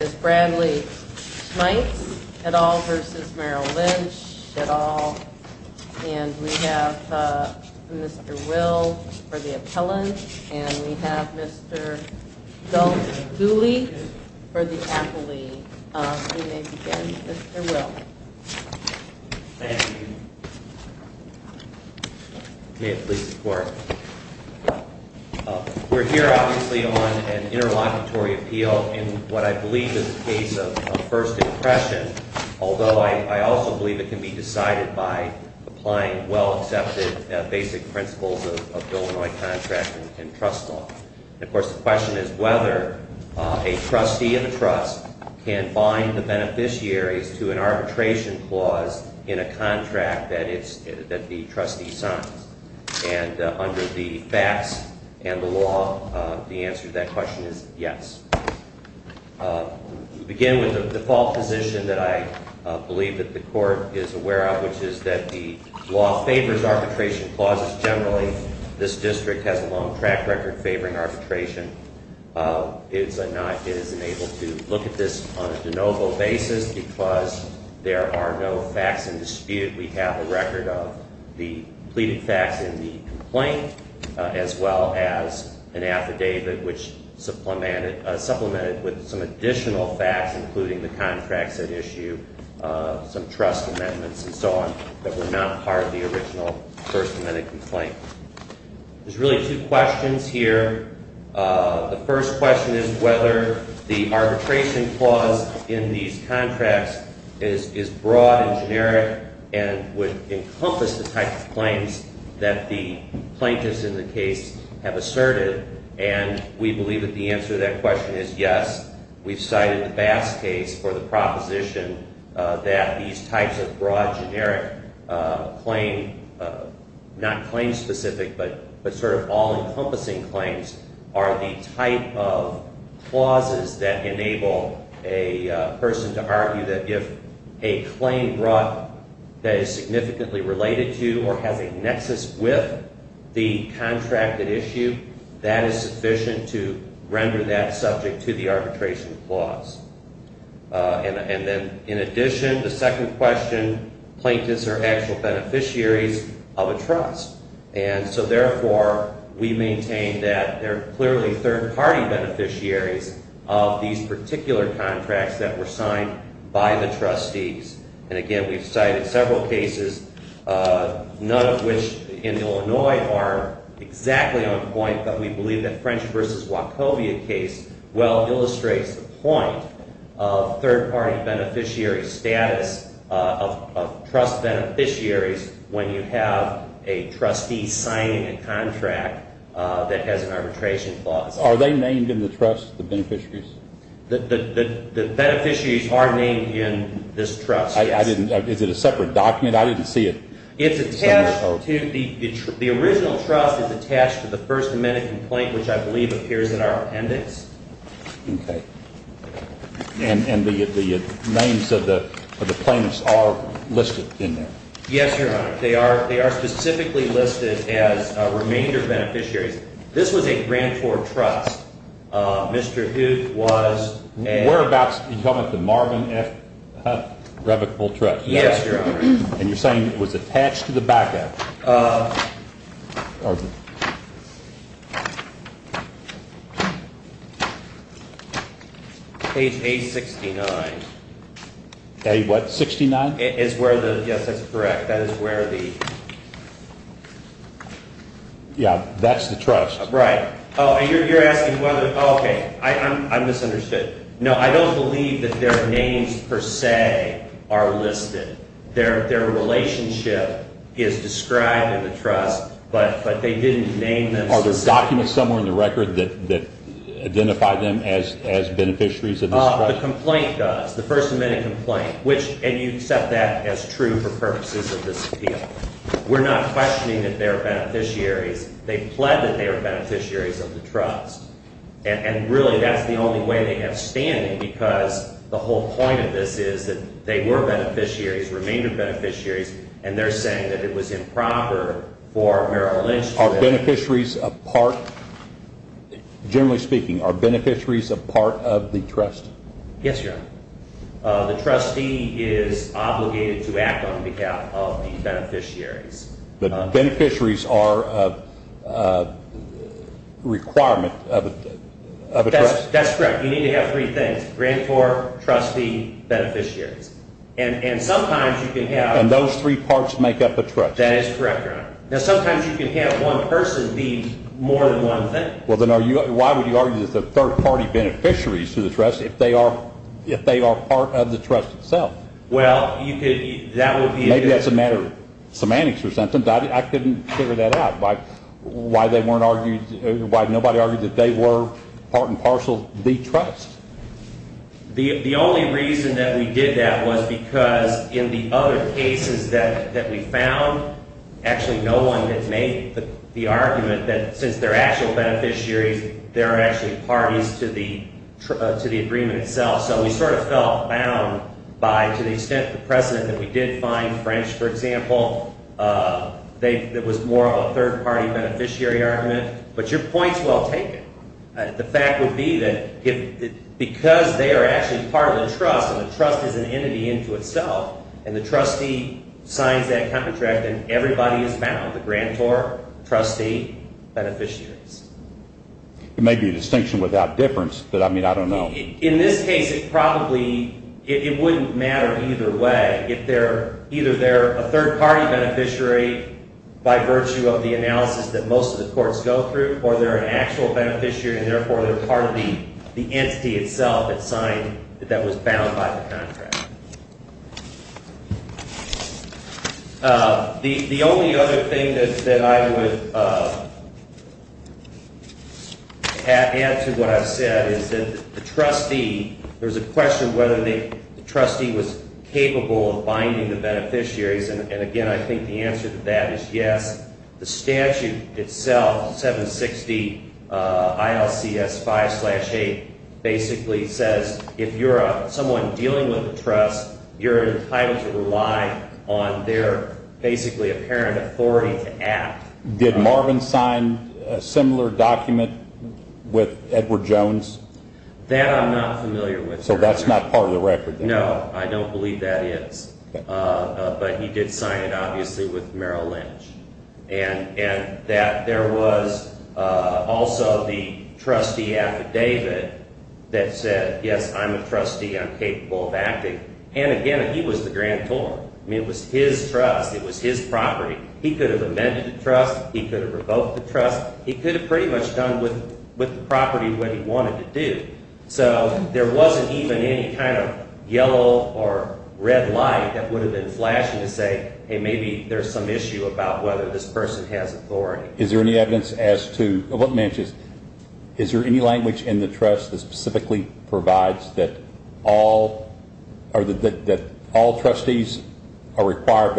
at all, and we have Mr. Will for the appellant, and we have Mr. Dolf Dooley for the appellee. You may begin, Mr. Will. Thank you. May it please the Court. We're here obviously on an interlocutory appeal in what I believe is a case of first impression, although I also believe it can be decided by applying well-accepted basic principles of Illinois contract and trust law. And of course the question is whether a trustee of a trust can bind the beneficiaries to an arbitration clause in a contract that the trustee signs. And under the facts and the law, the answer to that question is yes. We begin with the default position that I believe that the Court is aware of, which is that the law favors arbitration clauses generally. This district has a long track record favoring arbitration. It is unable to look at this on a de novo basis because there are no facts in dispute. We have a record of the pleaded facts in the complaint as well as an affidavit which supplemented with some additional facts including the contracts at issue, some trust amendments and so on that were not part of the original First Amendment complaint. There's really two questions here. The first question is whether the arbitration clause in these contracts is broad and generic and would encompass the type of claims that the plaintiffs in the case have asserted. And we believe that the answer to that question is yes. We've cited the Bass case for the proposition that these types of broad generic claim, not claim specific but sort of all encompassing claims, are the type of clauses that enable a person to argue that if a claim brought that is significantly related to or has a nexus with the contract at issue, that is sufficient to render that subject to the arbitration clause. And then in addition, the second question, plaintiffs are actual beneficiaries of a trust. And so therefore we maintain that they're clearly third party beneficiaries of these particular contracts that were signed by the trustees. And again, we've cited several cases, none of which in Illinois are exactly on point, but we believe that French v. Wachovia case well illustrates the point of third party beneficiary status of trust beneficiaries when you have a trustee signing a contract that has an arbitration clause. Are they named in the trust, the beneficiaries? The beneficiaries are named in this trust, yes. Is it a separate document? I didn't see it. The original trust is attached to the First Amendment complaint, which I believe appears in our appendix. Okay. And the names of the plaintiffs are listed in there? Yes, Your Honor. They are specifically listed as remainder beneficiaries. This was a 24-24 trust. Mr. Hoot was a You're talking about the Marvin F. Hunt Revocable Trust? Yes, Your Honor. And you're saying it was attached to the backup? Page 869. Page what, 69? Yes, that's correct. That is where the Yeah, that's the trust. Right. Oh, and you're asking whether, okay, I misunderstood. No, I don't believe that their names per se are listed. Their relationship is described in the trust, but they didn't name them specifically. Are there documents somewhere in the record that identify them as beneficiaries of this trust? The complaint does, the First Amendment complaint, and you accept that as true for purposes of this appeal. We're not questioning that they're beneficiaries. They plead that they are beneficiaries of the trust. And really, that's the only way they have standing because the whole point of this is that they were beneficiaries, remainder beneficiaries, and they're saying that it was improper for Merrill Lynch to have Are beneficiaries a part, generally speaking, are beneficiaries a part of the trust? Yes, Your Honor. The trustee is obligated to act on behalf of the beneficiaries. But beneficiaries are a requirement of a trust? That's correct. You need to have three things, grantor, trustee, beneficiaries. And sometimes you can have And those three parts make up the trust. That is correct, Your Honor. Now, sometimes you can have one person be more than one thing. Well, then why would you argue that they're third-party beneficiaries to the trust if they are part of the trust itself? Well, you could, that would be Maybe that's a matter of semantics or something. I couldn't figure that out. Why they weren't argued, why nobody argued that they were part and parcel of the trust? The only reason that we did that was because in the other cases that we found, actually no one had made the argument that since they're actual beneficiaries, they're actually parties to the agreement itself. So we sort of felt bound by, to the extent, the precedent that we did find French, for example, that was more of a third-party beneficiary argument. But your point's well taken. The fact would be that because they are actually part of the trust, and the trust is an entity into itself, and the trustee signs that contract, then everybody is bound, the grantor, trustee, beneficiaries. It may be a distinction without difference, but, I mean, I don't know. In this case, it probably, it wouldn't matter either way. If they're, either they're a third-party beneficiary by virtue of the analysis that most of the courts go through, or they're an actual beneficiary, and therefore they're part of the entity itself that signed, that was bound by the contract. The only other thing that I would add to what I've said is that the trustee, there was a question whether the trustee was capable of binding the beneficiaries, and, again, I think the answer to that is yes. The statute itself, 760 ILCS 5-8, basically says if you're someone dealing with the trust, you're entitled to rely on their, basically, apparent authority to act. Did Marvin sign a similar document with Edward Jones? That I'm not familiar with, sir. So that's not part of the record, then? No, I don't believe that is. But he did sign it, obviously, with Merrill Lynch. And that there was also the trustee affidavit that said, yes, I'm a trustee. I'm capable of acting. And, again, he was the grantor. I mean, it was his trust. It was his property. He could have amended the trust. He could have revoked the trust. He could have pretty much done with the property what he wanted to do. So there wasn't even any kind of yellow or red light that would have been flashing to say, hey, maybe there's some issue about whether this person has authority. Is there any evidence as to what matches? Is there any language in the trust that specifically provides that all trustees are required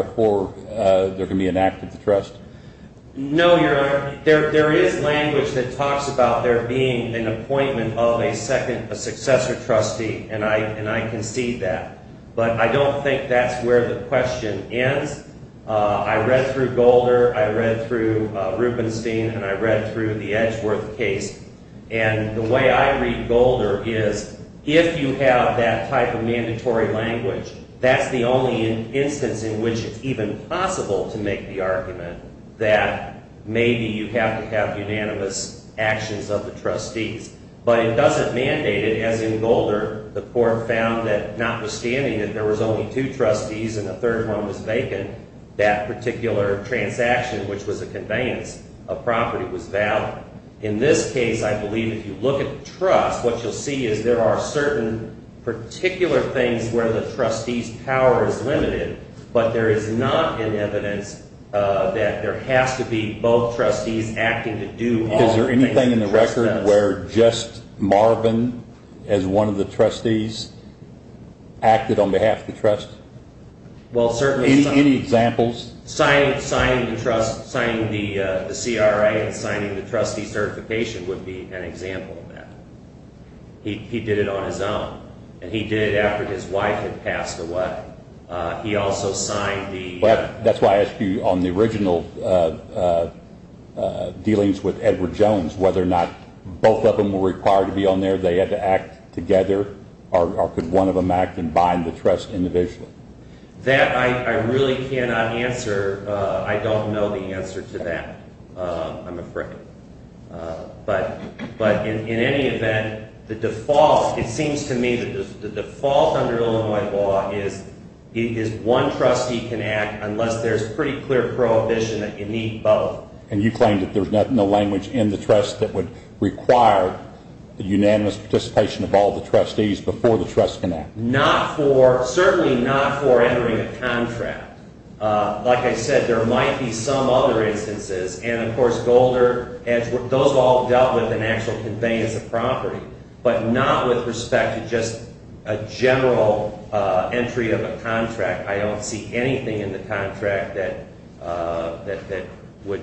No, Your Honor. There is language that talks about there being an appointment of a successor trustee. And I concede that. But I don't think that's where the question ends. I read through Golder. I read through Rubenstein. And I read through the Edgeworth case. And the way I read Golder is, if you have that type of mandatory language, that's the only instance in which it's even possible to make the argument that maybe you have to have unanimous actions of the trustees. But it doesn't mandate it, as in Golder, the court found that notwithstanding that there was only two trustees and a third one was vacant, that particular transaction, which was a conveyance of property, was valid. In this case, I believe if you look at the trust, what you'll see is there are certain particular things where the trustee's power is limited, but there is not an evidence that there has to be both trustees acting to do all Is there anything in the record where just Marvin as one of the trustees acted on behalf of the trust? Any examples? Signing the CRA and signing the trustee certification would be an example of that. He did it on his own. And he did it after his wife had passed away. He also signed the That's why I asked you on the original dealings with Edward Jones, whether or not both of them were required to be on there, they had to act together, or could one of them act and bind the trust individually? That I really cannot answer. I don't know the answer to that. I'm afraid. But in any event, it seems to me that the default under Illinois law is one trustee can act unless there's pretty clear prohibition that you need both. And you claim that there's no language in the trust that would require the unanimous participation of all the trustees before the trust can act? Certainly not for entering a contract. Like I said, there might be some other instances. And, of course, Golder, those all dealt with in actual conveyance of property, but not with respect to just a general entry of a contract. I don't see anything in the contract that would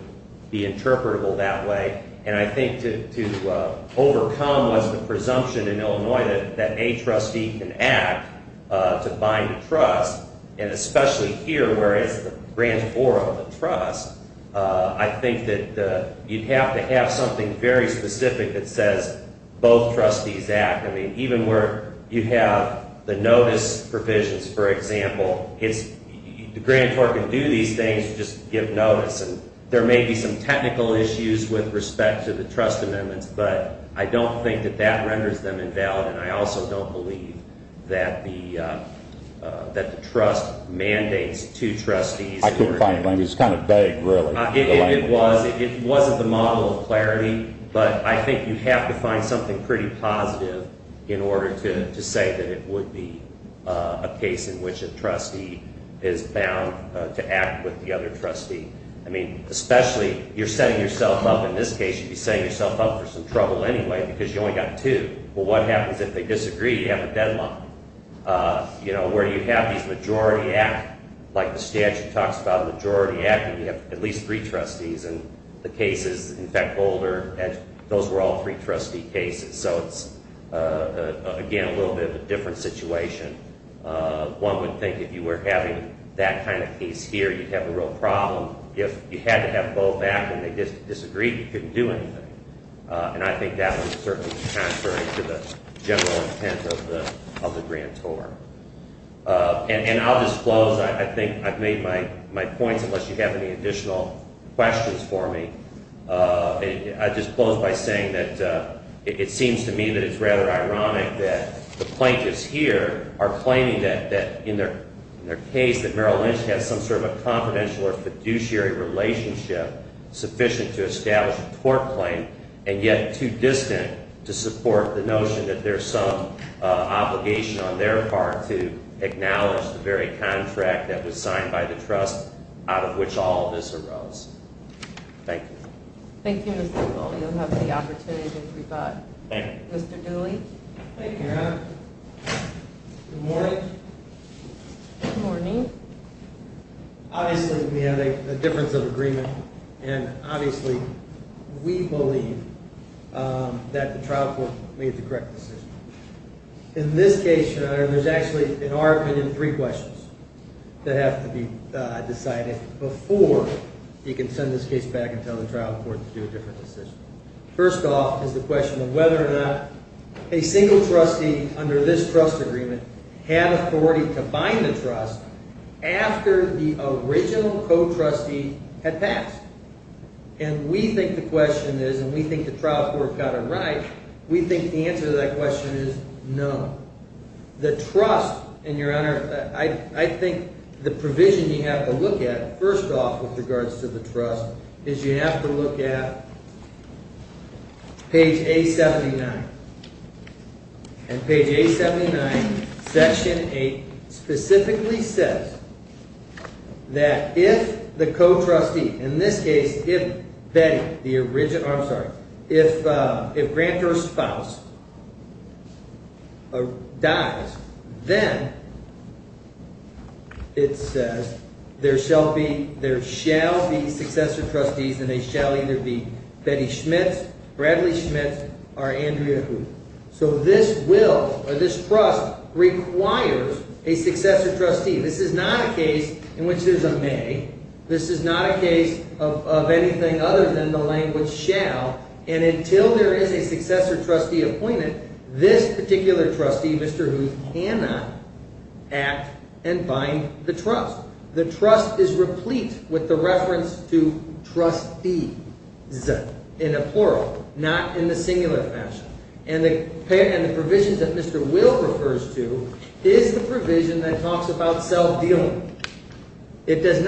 be interpretable that way. And I think to overcome the presumption in Illinois that a trustee can act to bind a trust, and especially here, where it's the grantor of the trust, I think that you'd have to have something very specific that says both trustees act. I mean, even where you have the notice provisions, for example, the grantor can do these things, just give notice. And there may be some technical issues with respect to the trust amendments, but I don't think that that renders them invalid. And I also don't believe that the trust mandates two trustees. I couldn't find a language. It's kind of vague, really. It wasn't the model of clarity. But I think you have to find something pretty positive in order to say that it would be a case in which a trustee is bound to act with the other trustee. I mean, especially, you're setting yourself up, in this case, you'd be setting yourself up for some trouble anyway, because you only got two. Well, what happens if they disagree? You have a deadline. You know, where you have these majority act, like the statute talks about majority acting, you have at least three trustees. And the cases, in fact, Boulder, those were all three trustee cases. So it's, again, a little bit of a different situation. One would think if you were having that kind of case here, you'd have a real problem. If you had to have both act and they disagreed, you couldn't do anything. And I think that would certainly be contrary to the general intent of the grantor. And I'll just close. I think I've made my points, unless you have any additional questions for me. I just close by saying that it seems to me that it's rather ironic that the plaintiffs here are claiming that, in their case, that Merrill Lynch has some sort of a confidential or fiduciary relationship sufficient to establish a tort claim, and yet too distant to support the notion that there's some obligation on their part to acknowledge the very contract that was signed by the trust, out of which all of this arose. Thank you. Thank you, Mr. Merrill. You'll have the opportunity to rebut. Thank you. Mr. Dooley? Thank you, Your Honor. Good morning. Good morning. Obviously, we have a difference of agreement, and obviously, we believe that the trial court made the correct decision. In this case, Your Honor, there's actually an argument in three questions that have to be decided before you can send this case back and tell the trial court to do a different decision. First off is the question of whether or not a single trustee under this trust agreement had authority to bind the trust after the original co-trustee had passed. And we think the question is, and we think the trial court got it right, we think the answer to that question is no. The trust, and Your Honor, I think the provision you have to look at, first off, with regards to the trust, is you have to look at page 879. And page 879, section 8, specifically says that if the co-trustee, in this case, if Betty, the original, I'm sorry, if Grant, her spouse, dies, then it says there shall be successor trustees, and they shall either be Betty Schmitz, Bradley Schmitz, or Andrea Huth. So this will, or this trust, requires a successor trustee. This is not a case in which there's a may. This is not a case of anything other than the language shall. And until there is a successor trustee appointed, this particular trustee, Mr. Huth, cannot act and bind the trust. The trust is replete with the reference to trustees, in a plural, not in the singular fashion. And the provision that Mr. Will refers to is the provision that talks about self-dealing. Is there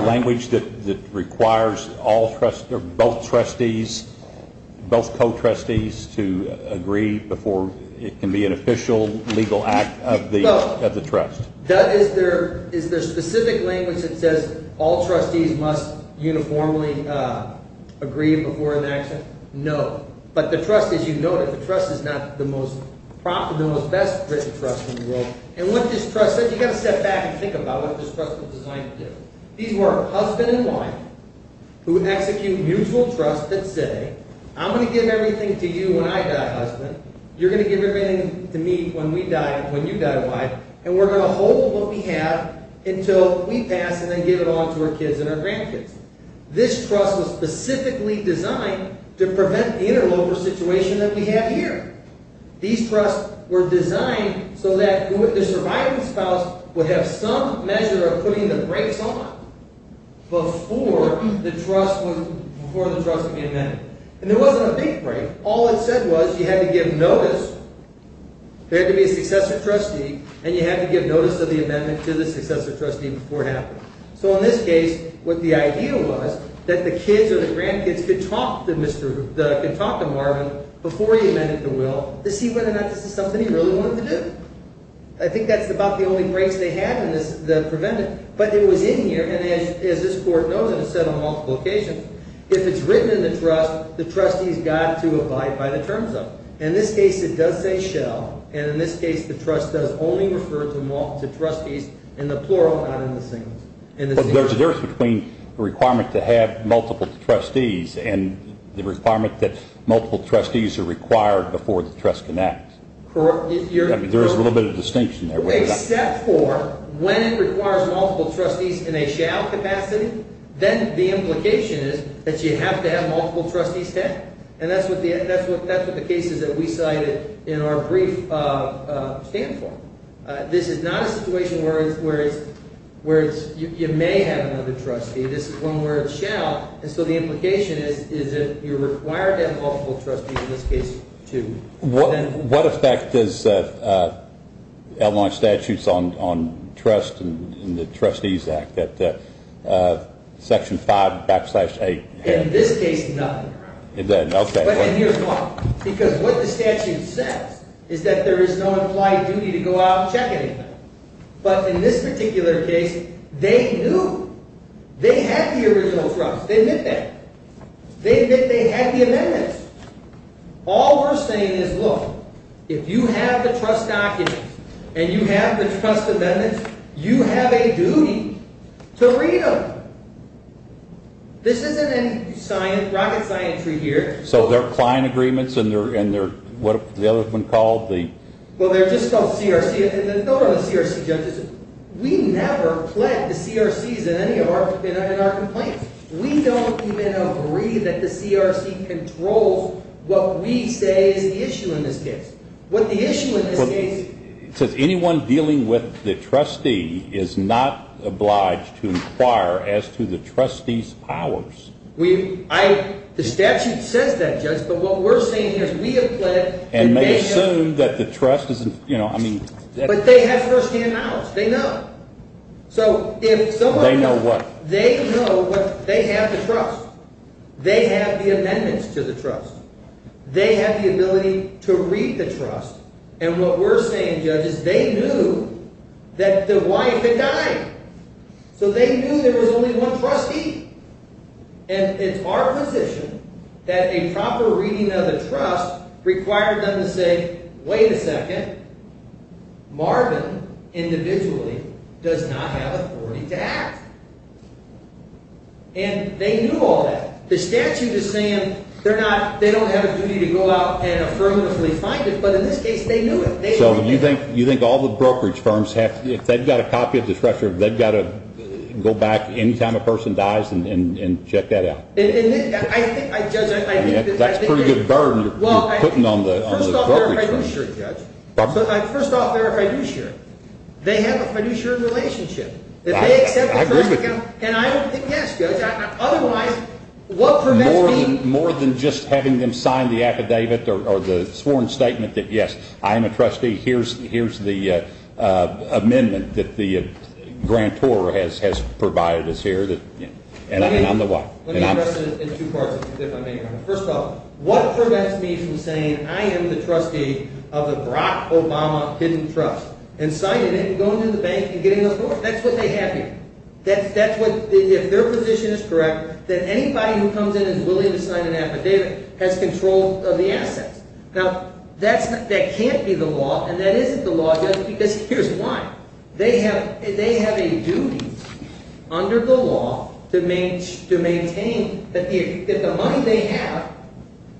language that requires both trustees, both co-trustees, to agree before it can be an official legal act of the trust? Is there specific language that says all trustees must uniformly agree before an action? No. But the trust, as you noted, the trust is not the most profitable, the best-written trust in the world. And what this trust says, you've got to step back and think about what this trust was designed to do. These were husband and wife who execute mutual trust that say, I'm going to give everything to you when I die, husband. You're going to give everything to me when we die, when you die, wife. And we're going to hold what we have until we pass and then give it on to our kids and our grandkids. This trust was specifically designed to prevent the interloper situation that we have here. These trusts were designed so that the surviving spouse would have some measure of putting the brakes on before the trust would be amended. And there wasn't a big break. All it said was you had to give notice, there had to be a successor trustee, and you had to give notice of the amendment to the successor trustee before it happened. So in this case, what the idea was that the kids or the grandkids could talk to Marvin before he amended the will to see whether or not this is something he really wanted to do. I think that's about the only breaks they had in this, the preventive. But it was in here, and as this court knows, and it's said on multiple occasions, if it's written in the trust, the trustees got to abide by the terms of it. In this case, it does say shall. And in this case, the trust does only refer to trustees in the plural, not in the singular. There's a difference between the requirement to have multiple trustees and the requirement that multiple trustees are required before the trust connects. There's a little bit of distinction there. Except for when it requires multiple trustees in a shall capacity, then the implication is that you have to have multiple trustees head. And that's what the cases that we cited in our brief stand for. This is not a situation where you may have another trustee. This is one where it's shall. And so the implication is that you're required to have multiple trustees in this case, too. What effect does L1 statutes on trust in the Trustees Act that Section 5 backslash 8 have? In this case, nothing. But then here's why. Because what the statute says is that there is no implied duty to go out and check anything. But in this particular case, they knew. They had the original trust. They admit that. They admit they had the amendments. All we're saying is, look, if you have the trust documents and you have the trust amendments, you have a duty to read them. This isn't rocket scientry here. So they're client agreements, and they're what the other one called? Well, they're just called CRC. Those are the CRC judges. We never pled the CRCs in any of our complaints. We don't even agree that the CRC controls what we say is the issue in this case. It says anyone dealing with the trustee is not obliged to inquire as to the trustee's powers. The statute says that, Judge, but what we're saying is we have pled. And may assume that the trust is, you know, I mean. But they have firsthand knowledge. They know. They know what? They know that they have the trust. They have the amendments to the trust. They have the ability to read the trust. And what we're saying, Judge, is they knew that the wife had died. So they knew there was only one trustee. And it's our position that a proper reading of the trust required them to say, wait a second. Marvin individually does not have authority to act. And they knew all that. The statute is saying they don't have a duty to go out and affirmatively find it. But in this case, they knew it. So you think all the brokerage firms, if they've got a copy of the trust, they've got to go back any time a person dies and check that out? I think, Judge. That's a pretty good burden you're putting on the brokerage firms. First off, verify fiduciary, Judge. First off, verify fiduciary. They have a fiduciary relationship. I agree with you. And I think, yes, Judge. More than just having them sign the affidavit or the sworn statement that, yes, I am a trustee. Here's the amendment that the grantor has provided us here. And I'm the what? Let me address it in two parts, if I may, Your Honor. First off, what prevents me from saying I am the trustee of the Barack Obama Hidden Trust and signing it and going to the bank and getting those doors? That's what they have here. If their position is correct, then anybody who comes in and is willing to sign an affidavit has control of the assets. Now, that can't be the law, and that isn't the law, Judge, because here's why. They have a duty under the law to maintain that the money they have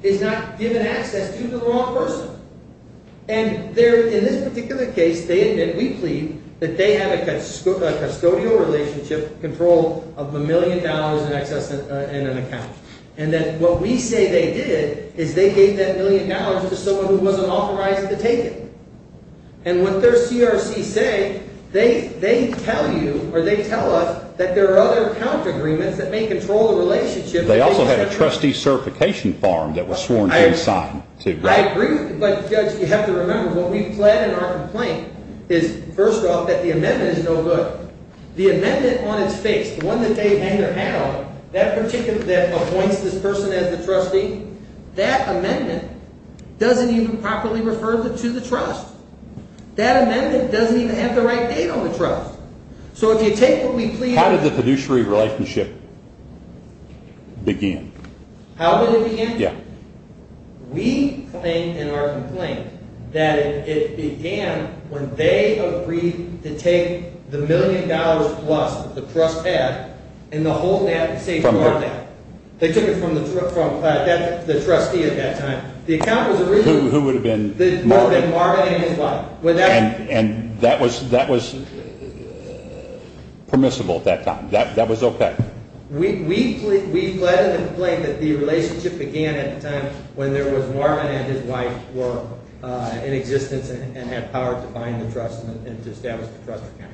is not given access to the wrong person. And in this particular case, they admit, we plead, that they have a custodial relationship control of a million dollars in excess in an account. And that what we say they did is they gave that million dollars to someone who wasn't authorized to take it. And what their CRC say, they tell you or they tell us that there are other account agreements that may control the relationship. They also had a trustee certification form that was sworn to and signed, too. I agree with you, but, Judge, you have to remember, what we've pled in our complaint is, first off, that the amendment is no good. The amendment on its face, the one that they hang their hat on, that particular, that appoints this person as the trustee, that amendment doesn't even properly refer to the trust. That amendment doesn't even have the right date on the trust. So if you take what we plead… How did the fiduciary relationship begin? How did it begin? Yeah. We plead in our complaint that it began when they agreed to take the million dollars plus, the trust pad, and the whole safe card. From who? They took it from the trustee at that time. The account was originally… Who would have been? Marvin. Marvin and his wife. And that was permissible at that time? That was okay? We plead in the complaint that the relationship began at the time when there was Marvin and his wife were in existence and had power to find the trust and to establish the trust account.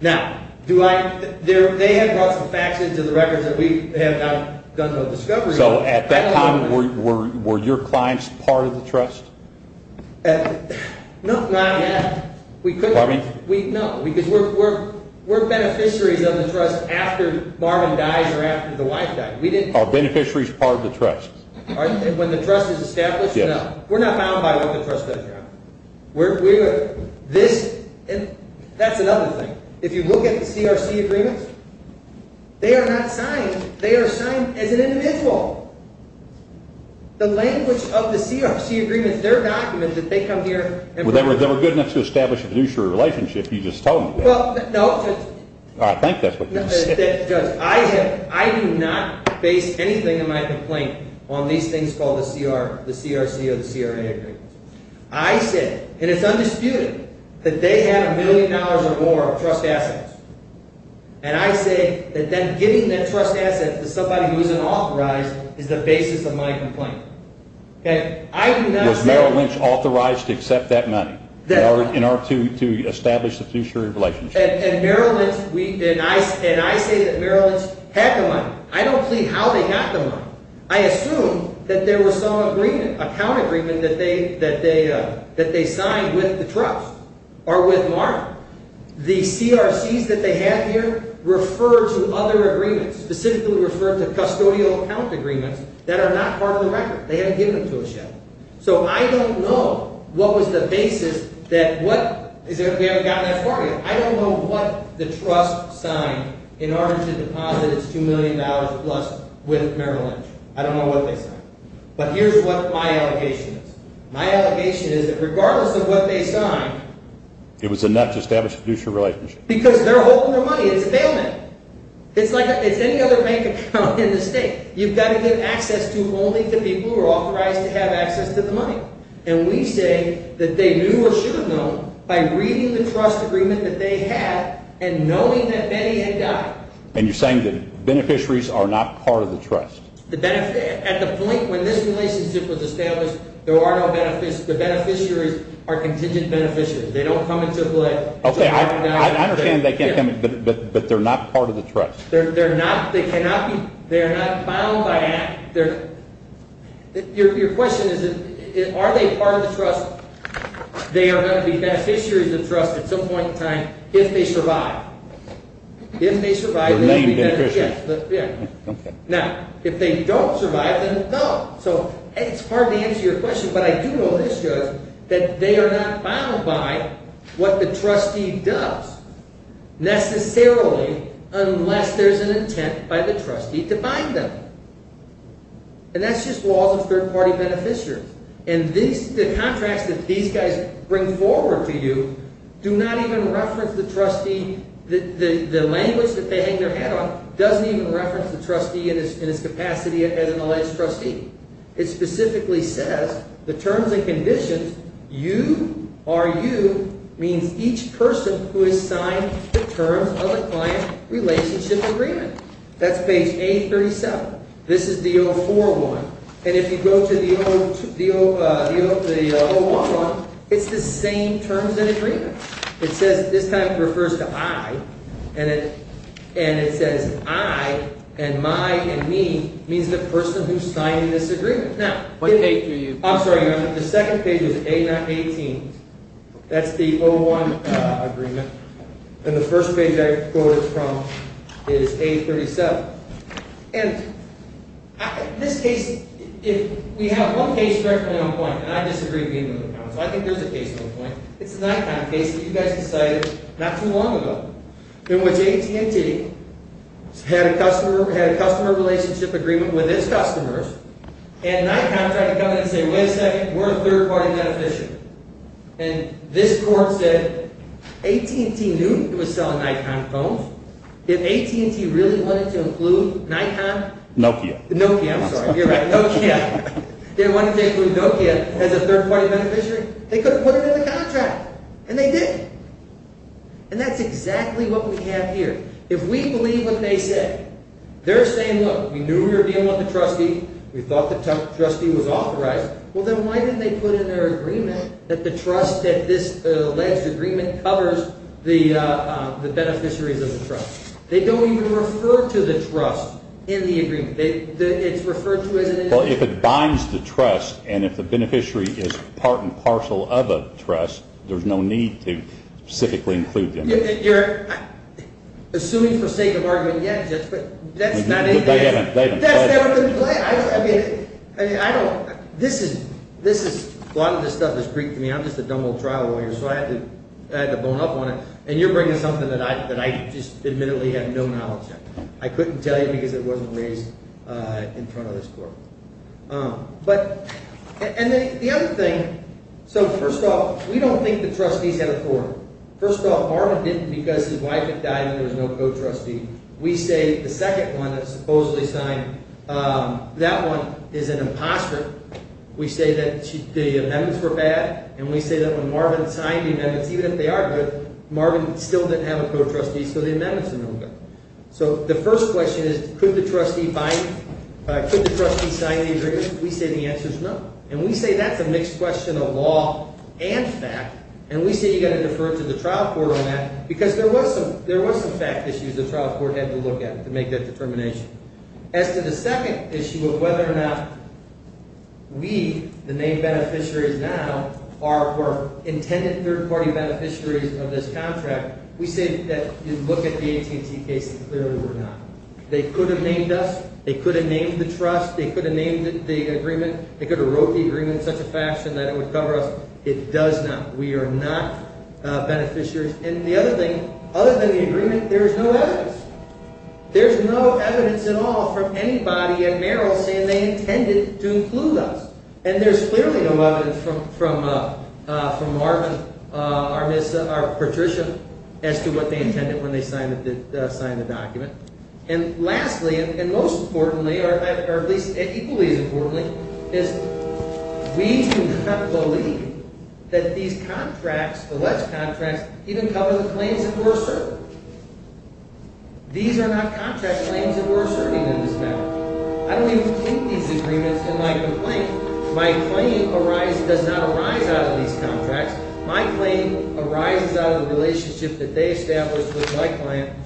Now, do I… They have brought some facts into the records that we have not done no discovery on. So at that time, were your clients part of the trust? No, not yet. We couldn't… Pardon me? No, because we're beneficiaries of the trust after Marvin dies or after the wife dies. We didn't… Are beneficiaries part of the trust? When the trust is established? Yes. No. We're not bound by what the trust does. We're… This… That's another thing. If you look at the CRC agreements, they are not signed. They are signed as an individual. The language of the CRC agreements, they're documents that they come here and… They were good enough to establish a fiduciary relationship. You just told me that. Well, no. I think that's what you said. I do not base anything in my complaint on these things called the CRC or the CRA agreements. I said, and it's undisputed, that they have a million dollars or more of trust assets. And I say that then giving that trust asset to somebody who isn't authorized is the basis of my complaint. Okay? I do not say… In order to establish the fiduciary relationship. And Maryland's… And I say that Maryland's had the money. I don't plead how they got the money. I assume that there were some agreement, account agreement that they signed with the trust or with Mark. The CRCs that they have here refer to other agreements, specifically refer to custodial account agreements, that are not part of the record. They haven't given them to us yet. So I don't know what was the basis that… We haven't gotten that far yet. I don't know what the trust signed in order to deposit its $2 million plus with Maryland. I don't know what they signed. But here's what my allegation is. My allegation is that regardless of what they signed… It was enough to establish a fiduciary relationship. Because they're holding their money. It's a bailment. It's like any other bank account in the state. You've got to give access to only the people who are authorized to have access to the money. And we say that they knew or should have known by reading the trust agreement that they had and knowing that Benny had died. And you're saying that beneficiaries are not part of the trust? At the point when this relationship was established, there are no beneficiaries. The beneficiaries are contingent beneficiaries. They don't come into play. Okay. I understand they can't come, but they're not part of the trust. They're not. They cannot be. They are not bound by act. Your question is are they part of the trust? They are going to be beneficiaries of trust at some point in time if they survive. If they survive, they may be beneficiaries. Now, if they don't survive, then no. So it's hard to answer your question, but I do know this, Judge, that they are not bound by what the trustee does necessarily unless there's an intent by the trustee to bind them. And that's just laws of third-party beneficiaries. And the contracts that these guys bring forward to you do not even reference the trustee. The language that they hang their hat on doesn't even reference the trustee in its capacity as an alleged trustee. It specifically says the terms and conditions, you are you, means each person who has signed the terms of a client relationship agreement. That's page 837. This is the 041. And if you go to the 011, it's the same terms and agreements. It says this time it refers to I, and it says I and my and me means the person who signed this agreement. What page are you on? I'm sorry, Your Honor. The second page is A-18. That's the 01 agreement. And the first page I quoted from is A-37. And this case, if we have one case directly on point, and I disagree with you, Your Honor, so I think there's a case on point. It's the Nikon case that you guys decided not too long ago in which AT&T had a customer relationship agreement with its customers, and Nikon tried to come in and say, wait a second, we're a third-party beneficiary. And this court said AT&T knew it was selling Nikon phones. If AT&T really wanted to include Nikon. Nokia. Nokia, I'm sorry. You're right, Nokia. They wanted to include Nokia as a third-party beneficiary. They could have put it in the contract, and they did. And that's exactly what we have here. If we believe what they say, they're saying, look, we knew we were dealing with a trustee. We thought the trustee was authorized. Well, then why didn't they put in their agreement that the trust that this alleged agreement covers the beneficiaries of the trust? They don't even refer to the trust in the agreement. Well, if it binds the trust and if the beneficiary is part and parcel of a trust, there's no need to specifically include them. You're assuming for sake of argument yet, Judge, but that's not in there. They haven't said that. That's never been said. I mean, I don't – this is – a lot of this stuff is Greek to me. I'm just a dumb old trial lawyer, so I had to bone up on it. And you're bringing something that I just admittedly have no knowledge of. I couldn't tell you because it wasn't raised in front of this court. But – and the other thing – so first off, we don't think the trustees had a court. First off, Marvin didn't because his wife had died and there was no co-trustee. We say the second one that supposedly signed, that one is an imposter. We say that the amendments were bad, and we say that when Marvin signed the amendments, even if they are good, Marvin still didn't have a co-trustee, so the amendments are no good. So the first question is could the trustee sign the agreement? We say the answer is no, and we say that's a mixed question of law and fact, and we say you've got to defer to the trial court on that because there was some fact issues the trial court had to look at to make that determination. As to the second issue of whether or not we, the main beneficiaries now, are intended third-party beneficiaries of this contract, we say that if you look at the AT&T case, clearly we're not. They could have named us. They could have named the trust. They could have named the agreement. They could have wrote the agreement in such a fashion that it would cover us. It does not. We are not beneficiaries. And the other thing, other than the agreement, there is no evidence. There is no evidence at all from anybody at Merrill saying they intended to include us. And there's clearly no evidence from Marvin or Patricia as to what they intended when they signed the document. And lastly, and most importantly, or at least equally as importantly, is we do not believe that these contracts, alleged contracts, even cover the claims that we're asserting. These are not contract claims that we're asserting in this matter. I don't even take these agreements in my complaint. My claim does not arise out of these contracts. My claim arises out of the relationship that they established with my client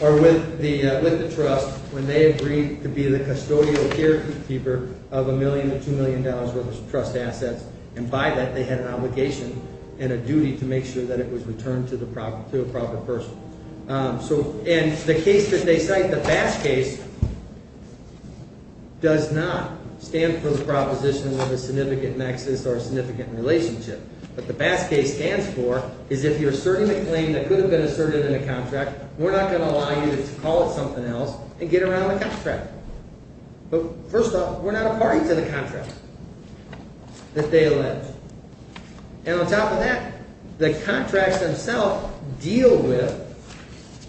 or with the trust when they agreed to be the custodial carekeeper of $1 million to $2 million worth of trust assets. And by that, they had an obligation and a duty to make sure that it was returned to the proper person. And the case that they cite, the Bass case, does not stand for the proposition of a significant nexus or a significant relationship. What the Bass case stands for is if you're asserting a claim that could have been asserted in a contract, we're not going to allow you to call it something else and get around the contract. But first off, we're not a party to the contract that they allege. And on top of that, the contracts themselves deal with,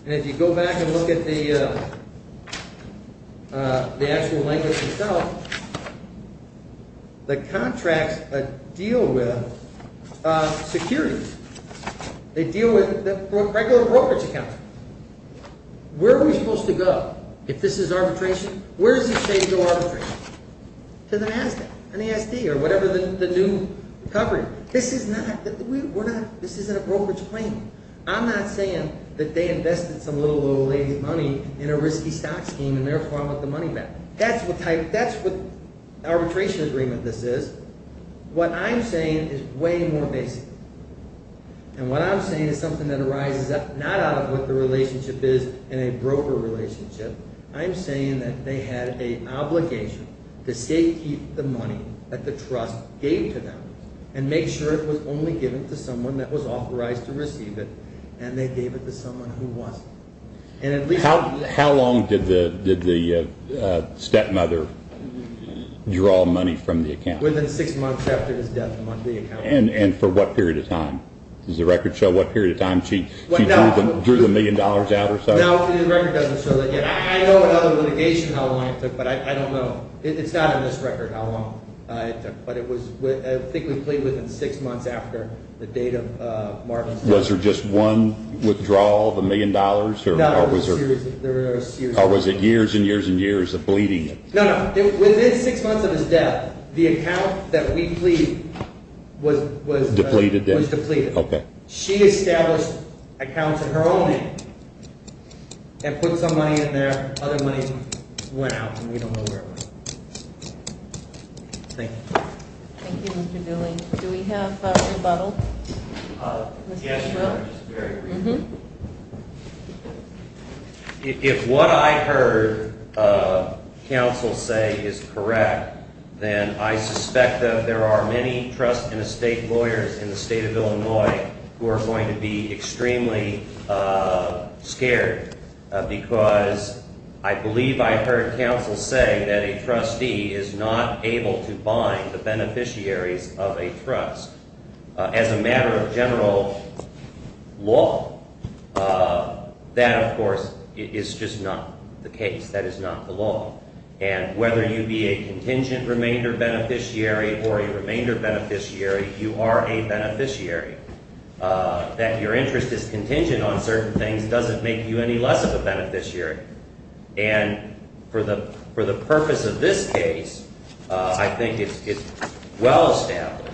and if you go back and look at the actual language itself, the contracts deal with securities. They deal with the regular brokerage account. Where are we supposed to go if this is arbitration? Where is it safe to arbitrate? To the NASDAQ, NASD, or whatever the new coverage. This is not – we're not – this isn't a brokerage claim. I'm not saying that they invested some little old lady money in a risky stock scheme and therefore I want the money back. That's what type – that's what arbitration agreement this is. What I'm saying is way more basic. And what I'm saying is something that arises not out of what the relationship is in a broker relationship. I'm saying that they had an obligation to safe keep the money that the trust gave to them and make sure it was only given to someone that was authorized to receive it, and they gave it to someone who wasn't. And at least – How long did the stepmother draw money from the account? Within six months after his death from the account. And for what period of time? Does the record show what period of time she drew the million dollars out or something? No, the record doesn't show that yet. I know in other litigation how long it took, but I don't know. It's not in this record how long it took. But it was – I think we plead within six months after the date of Marvin's death. Was there just one withdrawal, the million dollars? No, there were a series of withdrawals. Or was it years and years and years of bleeding it? No, no. Within six months of his death, the account that we plead was – Depleted then? Was depleted. Okay. She established accounts in her own name and put some money in there. Other money went out, and we don't know where it went. Thank you. Thank you, Mr. Dooley. Do we have a rebuttal? Yes, Your Honor, just very briefly. If what I heard counsel say is correct, then I suspect that there are many trust and estate lawyers in the state of Illinois who are going to be extremely scared because I believe I heard counsel say that a trustee is not able to bind the beneficiaries of a trust. As a matter of general law, that, of course, is just not the case. That is not the law. And whether you be a contingent remainder beneficiary or a remainder beneficiary, you are a beneficiary. That your interest is contingent on certain things doesn't make you any less of a beneficiary. And for the purpose of this case, I think it's well established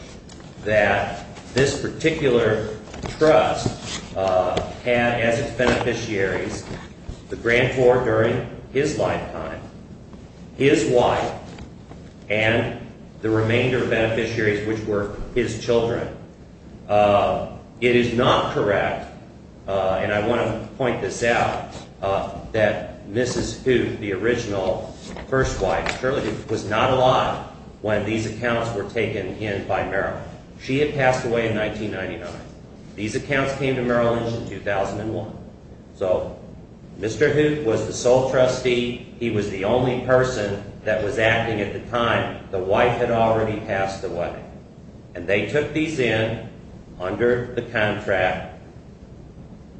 that this particular trust had as its beneficiaries the grantor during his lifetime, his wife, and the remainder beneficiaries, which were his children. It is not correct, and I want to point this out, that Mrs. Hoot, the original first wife, Shirley Hoot, was not alive when these accounts were taken in by Merrill. She had passed away in 1999. These accounts came to Merrill Lynch in 2001. So Mr. Hoot was the sole trustee. He was the only person that was acting at the time. The wife had already passed away. And they took these in under the contract.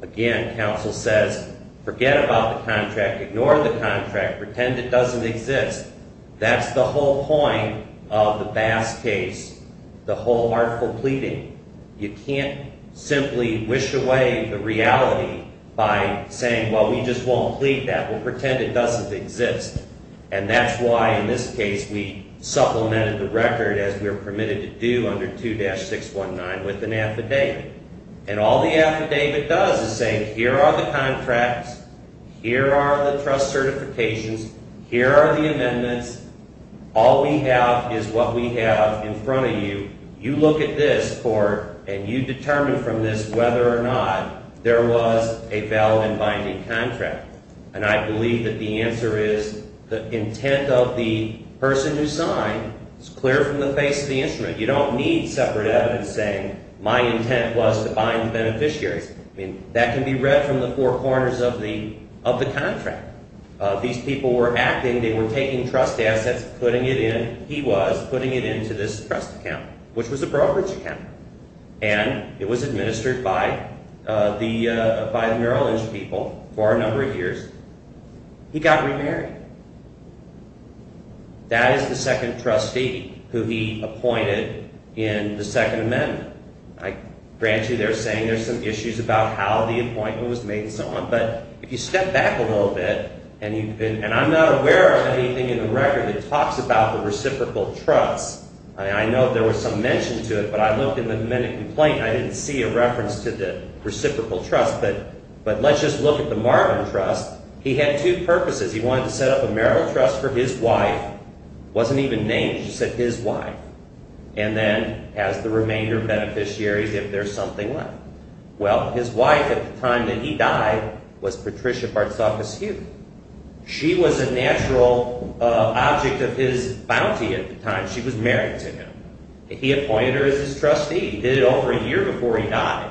Again, counsel says, forget about the contract. Ignore the contract. Pretend it doesn't exist. That's the whole point of the Bass case, the whole artful pleading. You can't simply wish away the reality by saying, well, we just won't plead that. We'll pretend it doesn't exist. And that's why, in this case, we supplemented the record, as we were permitted to do, under 2-619 with an affidavit. And all the affidavit does is say, here are the contracts. Here are the trust certifications. Here are the amendments. All we have is what we have in front of you. You look at this, and you determine from this whether or not there was a valid and binding contract. And I believe that the answer is the intent of the person who signed is clear from the face of the instrument. You don't need separate evidence saying, my intent was to bind the beneficiaries. I mean, that can be read from the four corners of the contract. These people were acting. They were taking trust assets, putting it in. And he was putting it into this trust account, which was a brokerage account. And it was administered by the New Orleans people for a number of years. He got remarried. That is the second trustee who he appointed in the Second Amendment. I grant you they're saying there's some issues about how the appointment was made and so on. But if you step back a little bit, and I'm not aware of anything in the record that talks about the reciprocal trust. I know there was some mention to it, but I looked in the amendment complaint, and I didn't see a reference to the reciprocal trust. But let's just look at the Marvin trust. He had two purposes. He wanted to set up a marital trust for his wife. It wasn't even named. She said his wife. And then as the remainder of beneficiaries, if there's something left. Well, his wife at the time that he died was Patricia Bartsokas-Hugh. She was a natural object of his bounty at the time. She was married to him. He appointed her as his trustee. He did it over a year before he died.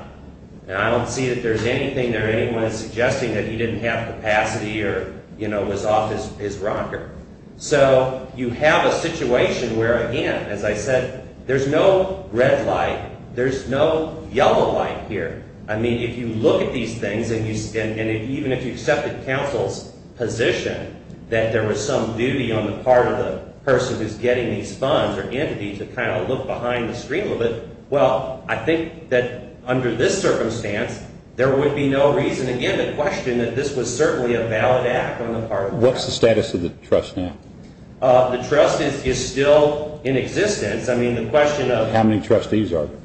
And I don't see that there's anything there anyone is suggesting that he didn't have capacity or was off his rocker. So you have a situation where, again, as I said, there's no red light. There's no yellow light here. I mean, if you look at these things, and even if you accepted counsel's position that there was some duty on the part of the person who's getting these funds or entities to kind of look behind the screen a little bit, well, I think that under this circumstance, there would be no reason, again, to question that this was certainly a valid act on the part of the person. What's the status of the trust now? The trust is still in existence. I mean, the question of... How many trustees are there?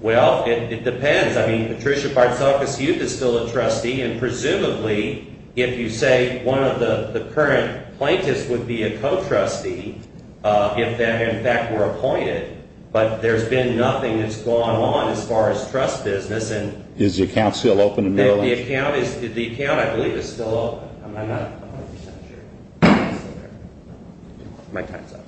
Well, it depends. I mean, Patricia Barzokas-Hughes is still a trustee, and presumably if you say one of the current plaintiffs would be a co-trustee, if that, in fact, were appointed. But there's been nothing that's gone on as far as trust business. Is the account still open in Maryland? The account, I believe, is still open. I'm not 100 percent sure. My time's up.